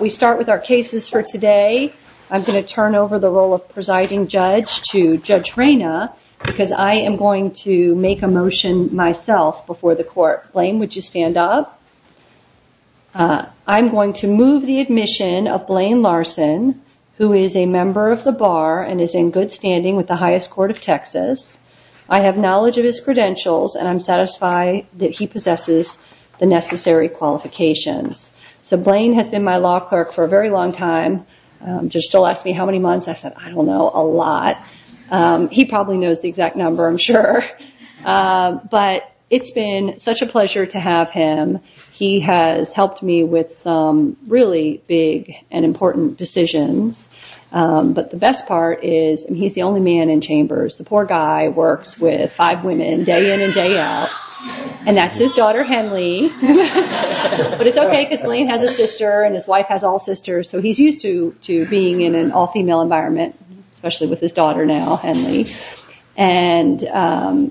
We start with our cases for today. I'm going to turn over the role of presiding judge to Judge Reyna because I am going to make a motion myself before the court. Blayne, would you stand up? I'm going to move the admission of Blayne Larson, who is a member of the bar and is in good standing with the highest court of Texas. I have knowledge of his credentials and I'm satisfied that he possesses the necessary qualifications. Blayne has been my law clerk for a very long time. He still asked me how many months. I said, I don't know, a lot. He probably knows the exact number, I'm sure. It's been such a pleasure to have him. He has helped me with some really big and important decisions. The best part is he's the only man in Chambers. The poor guy works with five women day in and day out. That's his daughter, Henley. It's okay because Blayne has a sister and his wife has all sisters. He's used to being in an all-female environment, especially with his daughter now, Henley.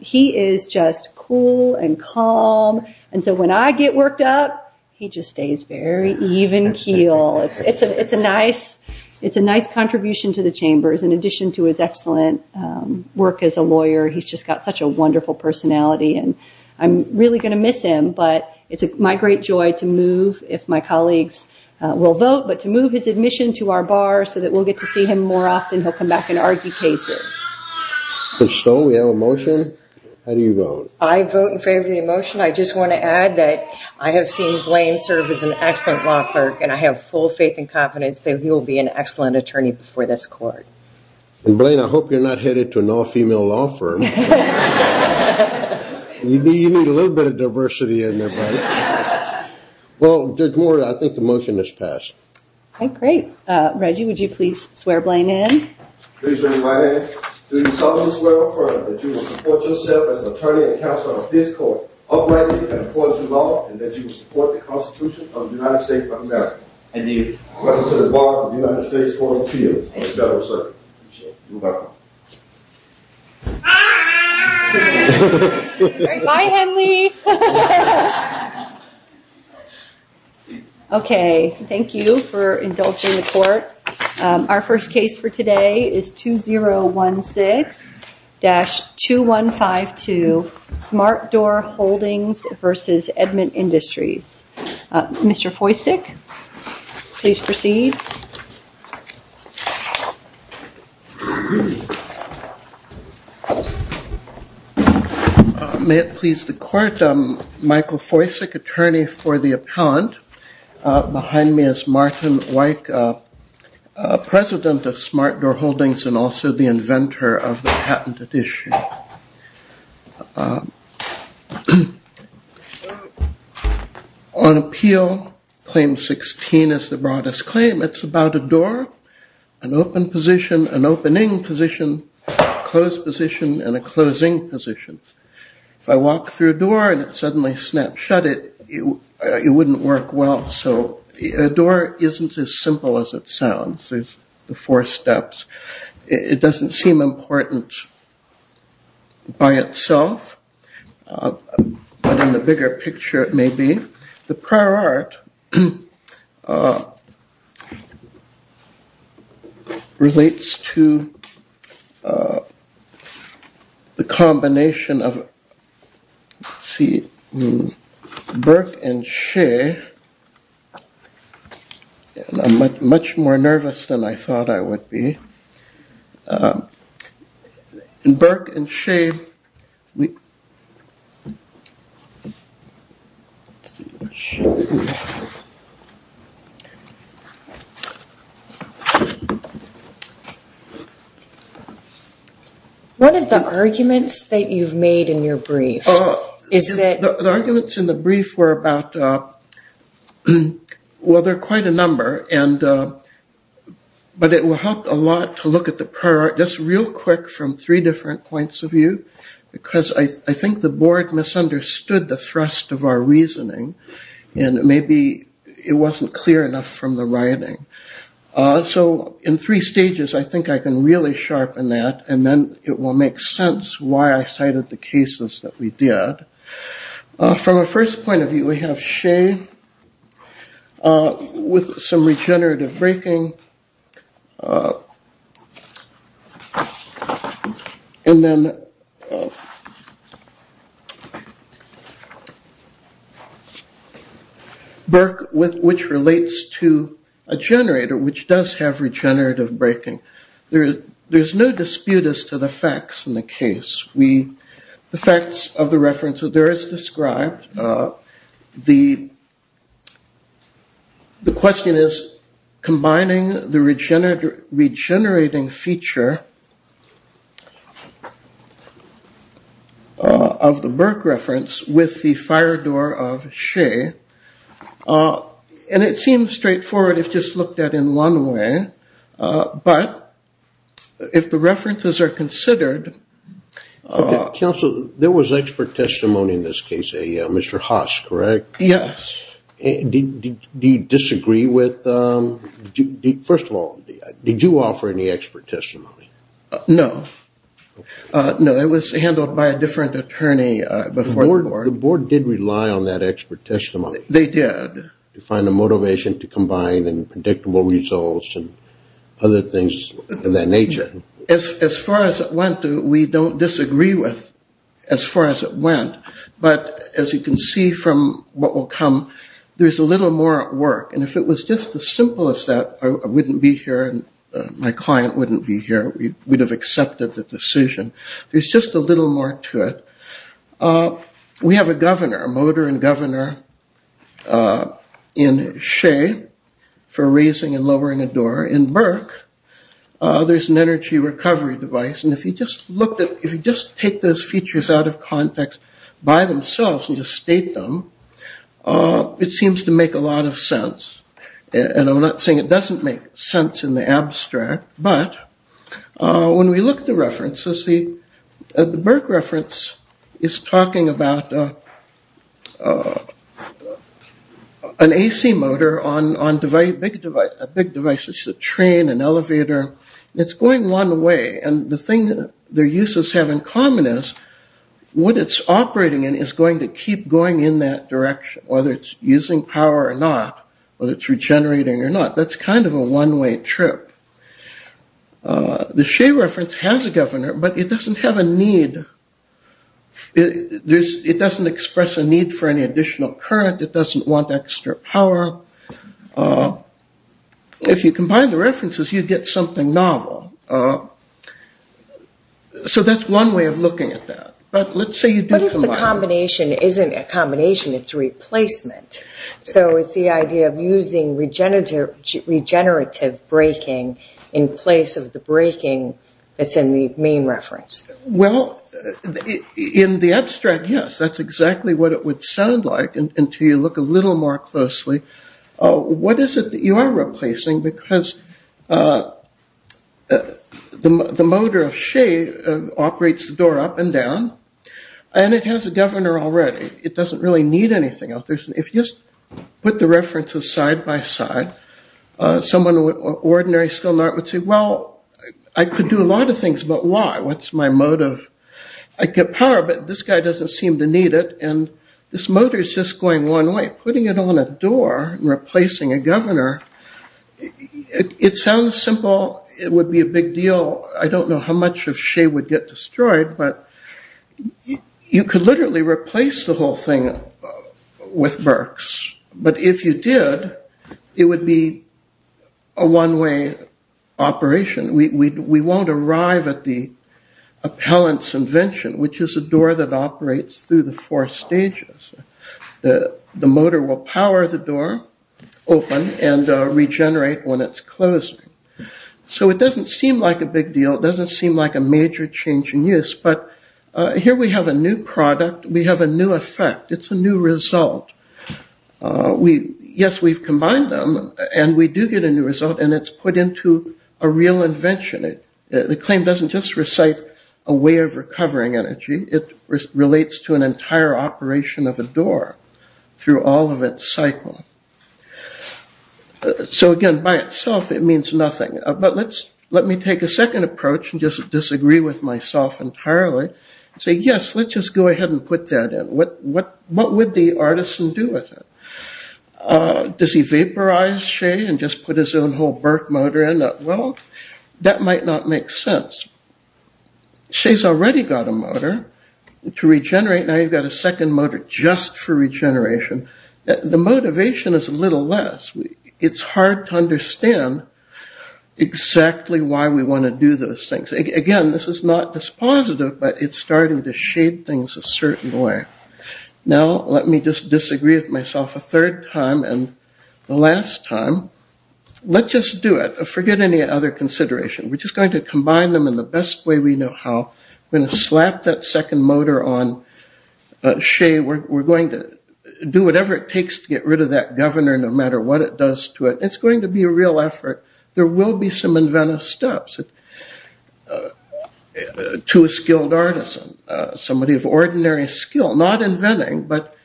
He is just cool and calm. When I get worked up, he just stays very even keel. It's a nice contribution to the Chambers, in addition to his excellent work as a lawyer. He's just got such a wonderful personality. I'm really going to miss him, but it's my great joy to move, if my colleagues will vote, but to move his admission to our bar so that we'll get to see him more often. He'll come back and argue cases. So, we have a motion. How do you vote? I vote in favor of the motion. I just want to add that I have seen Blayne serve as an excellent attorney before this court. Blayne, I hope you're not headed to an all-female law firm. You need a little bit of diversity in there, buddy. Well, I think the motion is passed. Okay, great. Reggie, would you please swear Blayne in? Please read my name. Do you solemnly swear or affirm that you will support yourself as an attorney and counsel of this court, uprightly and according to law, and that you will support the Constitution of the United States of America, and the representative bar of the United States Court of Appeals and the Federal Circuit? I do. You're welcome. Bye! Bye, Henley! Okay, thank you for indulging the court. Our first case for today is 2016-2152, Smart Door Holdings v. Edmund Industries. Mr. Foisik, please proceed. May it please the court, Michael Foisik, attorney for the appellant. Behind me is Martin Weick, president of Smart Door Holdings and also the inventor of the patented issue. On appeal, Claim 16 is the broadest claim. It's about a door, an open position, an opening position, a closed position, and a closing position. If I walk through a door and it suddenly snaps shut, it wouldn't work well. So a door isn't as simple as it sounds. There's the four steps. It doesn't seem important by itself, but in the bigger picture it may be. The prior art relates to the combination of Burke and Shea. I'm much more nervous than I thought I would be. One of the arguments that you've made in your brief is that... Let's look at the prior art just real quick from three different points of view because I think the board misunderstood the thrust of our reasoning and maybe it wasn't clear enough from the writing. So in three stages I think I can really sharpen that and then it will make sense why I cited the cases that we did. From a first point of view we have Shea with some regenerative breaking and then Burke which relates to a generator which does have regenerative breaking. There's no dispute as to the facts in the case. The facts of the reference there is described. The question is combining the regenerating feature of the Burke reference with the fire door of Shea. And it seems straightforward if just looked at in one way, but if the references are considered... Counsel, there was expert testimony in this case, a Mr. Haas, correct? Yes. Do you disagree with... First of all, did you offer any expert testimony? No. No, it was handled by a different attorney before the board. The board did rely on that expert testimony. They did. To find a motivation to combine results and other things of that nature. As far as it went, we don't disagree with as far as it went. But as you can see from what will come, there's a little more at work. And if it was just the simplest that I wouldn't be here and my client wouldn't be here, we would have accepted the decision. There's just a little more to it. We have a governor, a motor and governor in Shea for raising and lowering a door. In Burke, there's an energy recovery device. And if you just look at... If you just take those features out of context by themselves and just state them, it seems to make a lot of sense. And I'm not saying it doesn't make sense in the abstract, but when we look at the references, the Burke reference is talking about an AC motor on a big device, a train, an elevator. It's going one way. And the thing their uses have in common is what it's operating in is going to keep going in that direction, whether it's using power or not, whether it's regenerating or not. That's kind of a one-way trip. The Shea reference has a governor, but it doesn't have a need. It doesn't express a need for any additional current. It doesn't want extra power. If you combine the references, you get something novel. So that's one way of looking at that. But let's say you do combine... Combination isn't a combination. It's a replacement. So it's the idea of using regenerative braking in place of the braking that's in the main reference. Well, in the abstract, yes, that's exactly what it would sound like until you look a little more closely. What is it that you are need anything else? If you just put the references side by side, someone with ordinary skill would say, well, I could do a lot of things, but why? What's my motive? I could get power, but this guy doesn't seem to need it. And this motor is just going one way. Putting it on a door and replacing a governor, it sounds simple. It would be a big deal. I don't know how much of Shea would get the whole thing with Berks. But if you did, it would be a one-way operation. We won't arrive at the appellant's invention, which is a door that operates through the four stages. The motor will power the door open and regenerate when it's closed. So it doesn't seem like a big deal. It doesn't seem like a major change in use. But here we have a new product. We have a new effect. It's a new result. Yes, we've combined them, and we do get a new result, and it's put into a real invention. The claim doesn't just recite a way of recovering energy. It relates to an entire operation of a door through all of its cycle. So again, by itself, it means nothing. But let me take a second approach and just disagree with myself entirely. Say, yes, let's just go ahead and put that in. What would the artisan do with it? Does he vaporize Shea and just put his own whole Berk motor in? Well, that might not make sense. Shea's already got a motor to regenerate. Now you've got a second motor just for regeneration. The motivation is a little less. It's hard to understand exactly why we want to do those things. Again, this is not dispositive, but it's starting to shape things a certain way. Now let me just disagree with myself a third time and the last time. Let's just do it. Forget any other consideration. We're just going to do it in the best way we know how. We're going to slap that second motor on Shea. We're going to do whatever it takes to get rid of that governor, no matter what it does to it. It's going to be a real effort. There will be some inventive steps to a skilled artisan, somebody of ordinary skill. Not inventing, but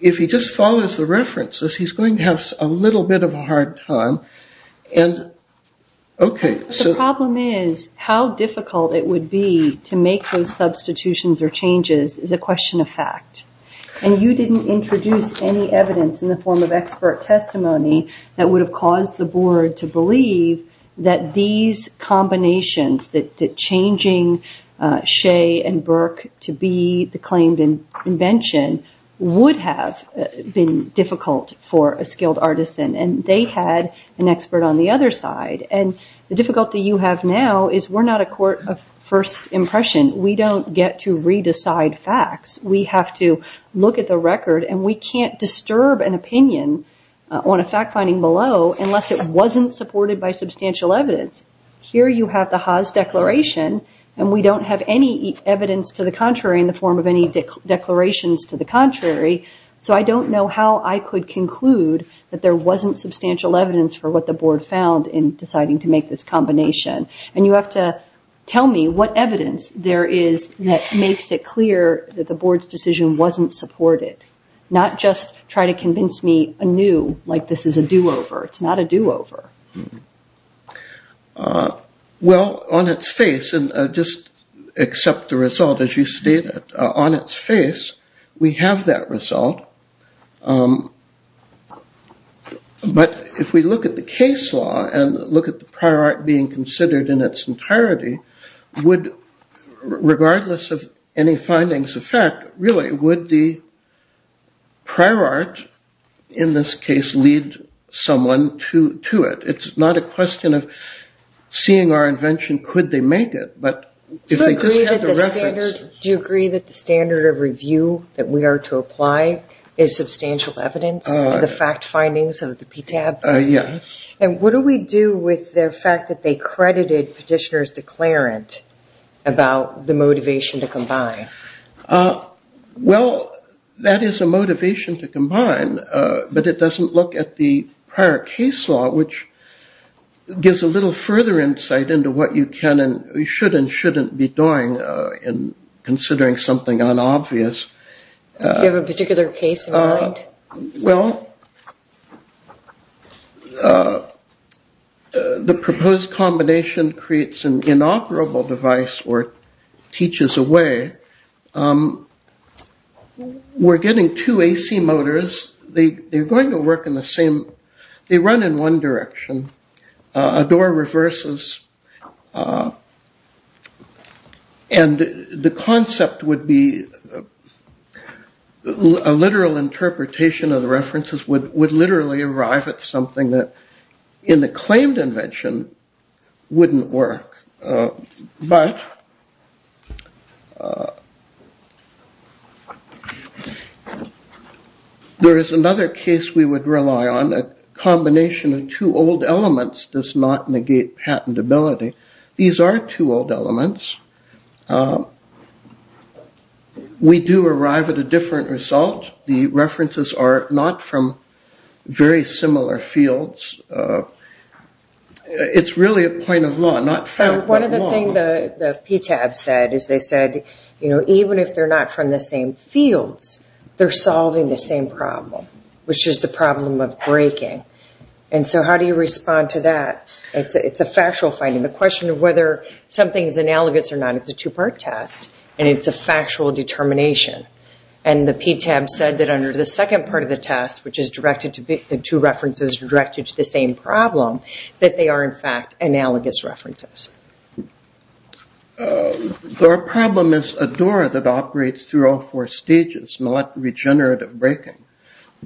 if he just follows the references, he's going to have a little bit of a hard time. The problem is how difficult it would be to make those substitutions or changes is a question of fact. You didn't introduce any evidence in the form of expert testimony that would have caused the board to believe that these combinations, that changing Shea and Berk to be the claimed invention would have been difficult for a skilled artisan. They had an expert on the other side. The difficulty you have now is we're not a court of first impression. We don't get to re-decide facts. We have to look at the record and we can't disturb an opinion on a fact finding below unless it wasn't supported by substantial evidence. Here you have the Haas Declaration and we don't have any evidence to the contrary in the form of any declarations to the contrary, so I don't know how I could conclude that there wasn't substantial evidence for what the board found in deciding to make this combination. You have to tell me what evidence there is that makes it clear that the board knew like this is a do-over. It's not a do-over. Well, on its face, and just accept the result as you state it, on its face we have that result, but if we look at the case law and look at the prior art being considered in its entirety, regardless of any findings of fact, really would the prior art in this case lead someone to it? It's not a question of seeing our invention. Could they make it? Do you agree that the standard of review that we are to apply is substantial evidence in the fact findings of the PTAB? Yes. And what do we do with the fact that they credited Petitioner's Declarant about the motivation to combine? Well, that is a motivation to combine, but it doesn't look at the prior case law, which gives a little further insight into what you can and should and shouldn't be doing in considering something unobvious. Do you have a particular case in mind? Well, the proposed combination creates an inoperable device or teaches a way. We're getting two AC motors, they're going to work in the same, they run in one direction, a door reverses, and the concept would be, a literal There is another case we would rely on, a combination of two old elements does not negate patentability. These are two old elements. We do arrive at a different result, the even if they're not from the same fields, they're solving the same problem, which is the problem of breaking. And so how do you respond to that? It's a factual finding. The question of whether something is analogous or not is a two-part test, and it's a factual determination. And the PTAB said that under the second part of the test, which is directed to the two references directed to the same problem, that they are in fact analogous references. The problem is a door that operates through all four stages, not regenerative breaking.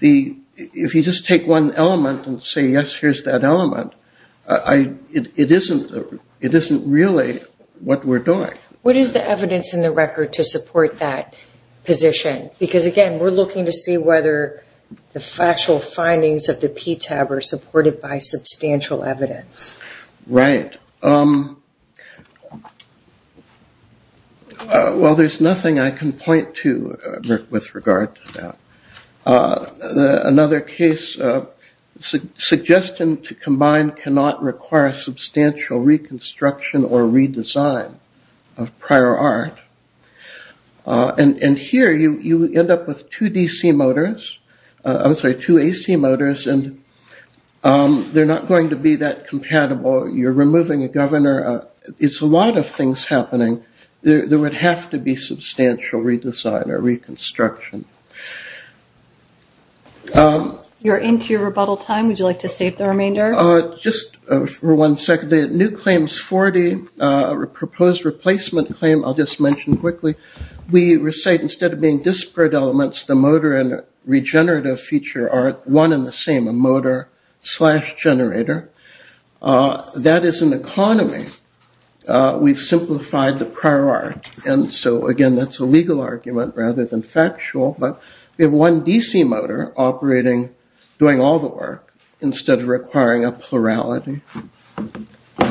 If you just take one element and say, yes, here's that element, it isn't really what we're doing. What is the evidence in the record to support that position? Because again, we're looking to see whether the factual findings of the PTAB are supported by substantial evidence. Right. Well, there's nothing I can point to with regard to that. Another case, suggestion to combine cannot require substantial reconstruction or redesign of prior art. And here you end up with two AC motors, and they're not going to be that You're into your rebuttal time. Would you like to save the remainder? Just for one second. The new claims 40, proposed replacement claim I'll just mention quickly, we recite instead of being disparate elements, the motor and regenerative feature are one and the same, a motor slash generator. That is an economy. We've simplified the prior art. And so again, that's a legal argument rather than factual. But we have one DC motor operating, doing all the work instead of requiring a plurality. Good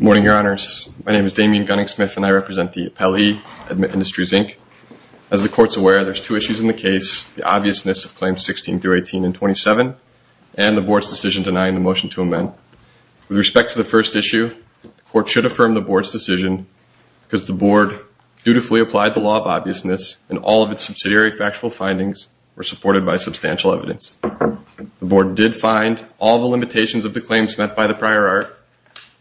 morning, your honors. My name is Damien Gunning Smith and I represent the appellee at MIT Industries Inc. As the court's aware, there's two issues in the case, the obviousness of claims 16 through 18 and 27, and the board's decision denying the motion to amend. With respect to the first issue, the court should affirm the board's decision because the board dutifully applied the law of obviousness and all of its subsidiary factual findings were supported by substantial evidence. The board did find all the limitations of the claims met by the prior art.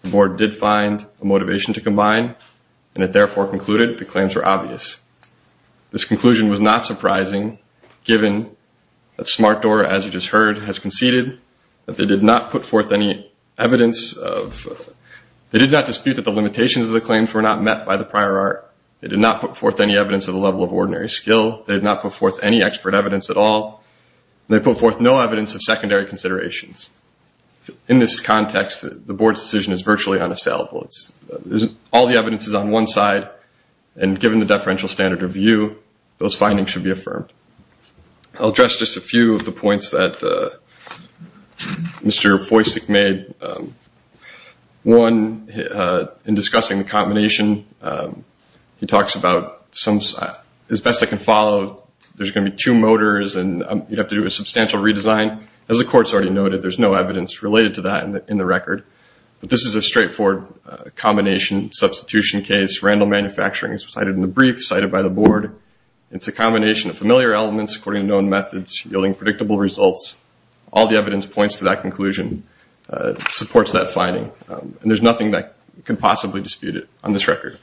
The board did find a motivation to combine and it therefore concluded the claims were obvious. This conclusion was not surprising given that Smartdoor, as you just heard, has conceded that they did not put forth any evidence of, they did not dispute that the limitations of the claims were not met by the prior art. They did not put forth any evidence of the level of ordinary skill. They did not put forth any expert evidence at all. They put forth no evidence of secondary considerations. In this context, the board's decision is virtually unassailable. All the evidence is on one side and given the deferential standard review, those findings should be affirmed. I'll address just a few of the points that Mr. Foisik made. One, in discussing the combination, he talks about, as best I can follow, there's going to be two motors and you'd have to do a substantial redesign. As the court's already noted, there's no evidence related to that in the record. But this is a straightforward combination substitution case. Randall Manufacturing is cited in the brief, cited by the board. It's a combination of familiar elements according to known methods yielding predictable results. All the evidence points to that conclusion, supports that finding. And there's nothing that can possibly dispute it on this record.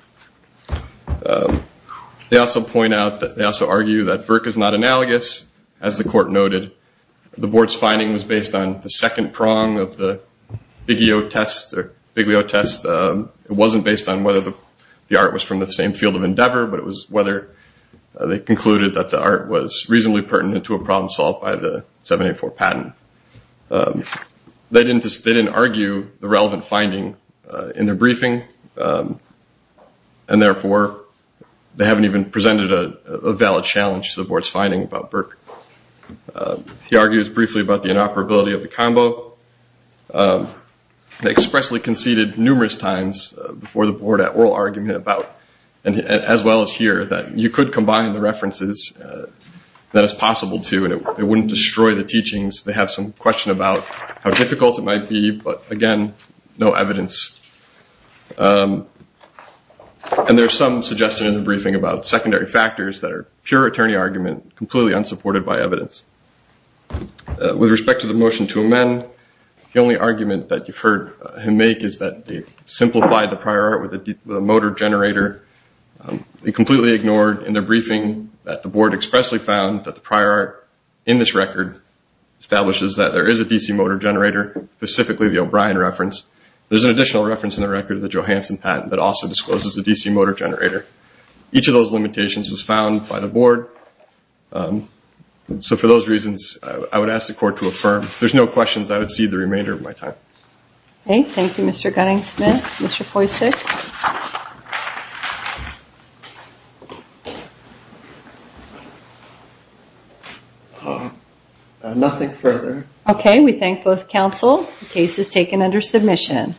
They also point out, they also argue that Burke is not analogous. As the court noted, the board's finding was based on the second prong of the Biglio test. It wasn't based on whether the art was from the same field of endeavor, but it was whether they concluded that the art was reasonably pertinent to a problem solved by the 784 patent. They didn't argue the relevant finding in the briefing, and therefore they haven't even presented a valid challenge to the board's finding about Burke. He argues briefly about the inoperability of the combo. They expressly conceded numerous times before the board at oral argument about, as well as here, that you could combine the references, that it's possible to, and it wouldn't destroy the teachings. They have some question about how difficult it might be, but again, no evidence. And there's some suggestion in the briefing about secondary factors that are pure attorney argument, completely unsupported by evidence. With respect to the motion to amend, the only argument that you've heard him make is that they've simplified the prior art with a motor generator. It completely ignored in the briefing that the board expressly found that the prior art in this record establishes that there is a DC motor generator, specifically the O'Brien reference. There's an additional reference in the record of the Johansson patent that also discloses a DC motor generator. Each of those limitations was found by the board, so for those reasons, I would ask the court to affirm. If there's no questions, I would cede the remainder of my time. Okay, thank you, Mr. Gunning-Smith. Mr. Foisik? Nothing further. Okay, we thank both counsel. The case is taken under submission.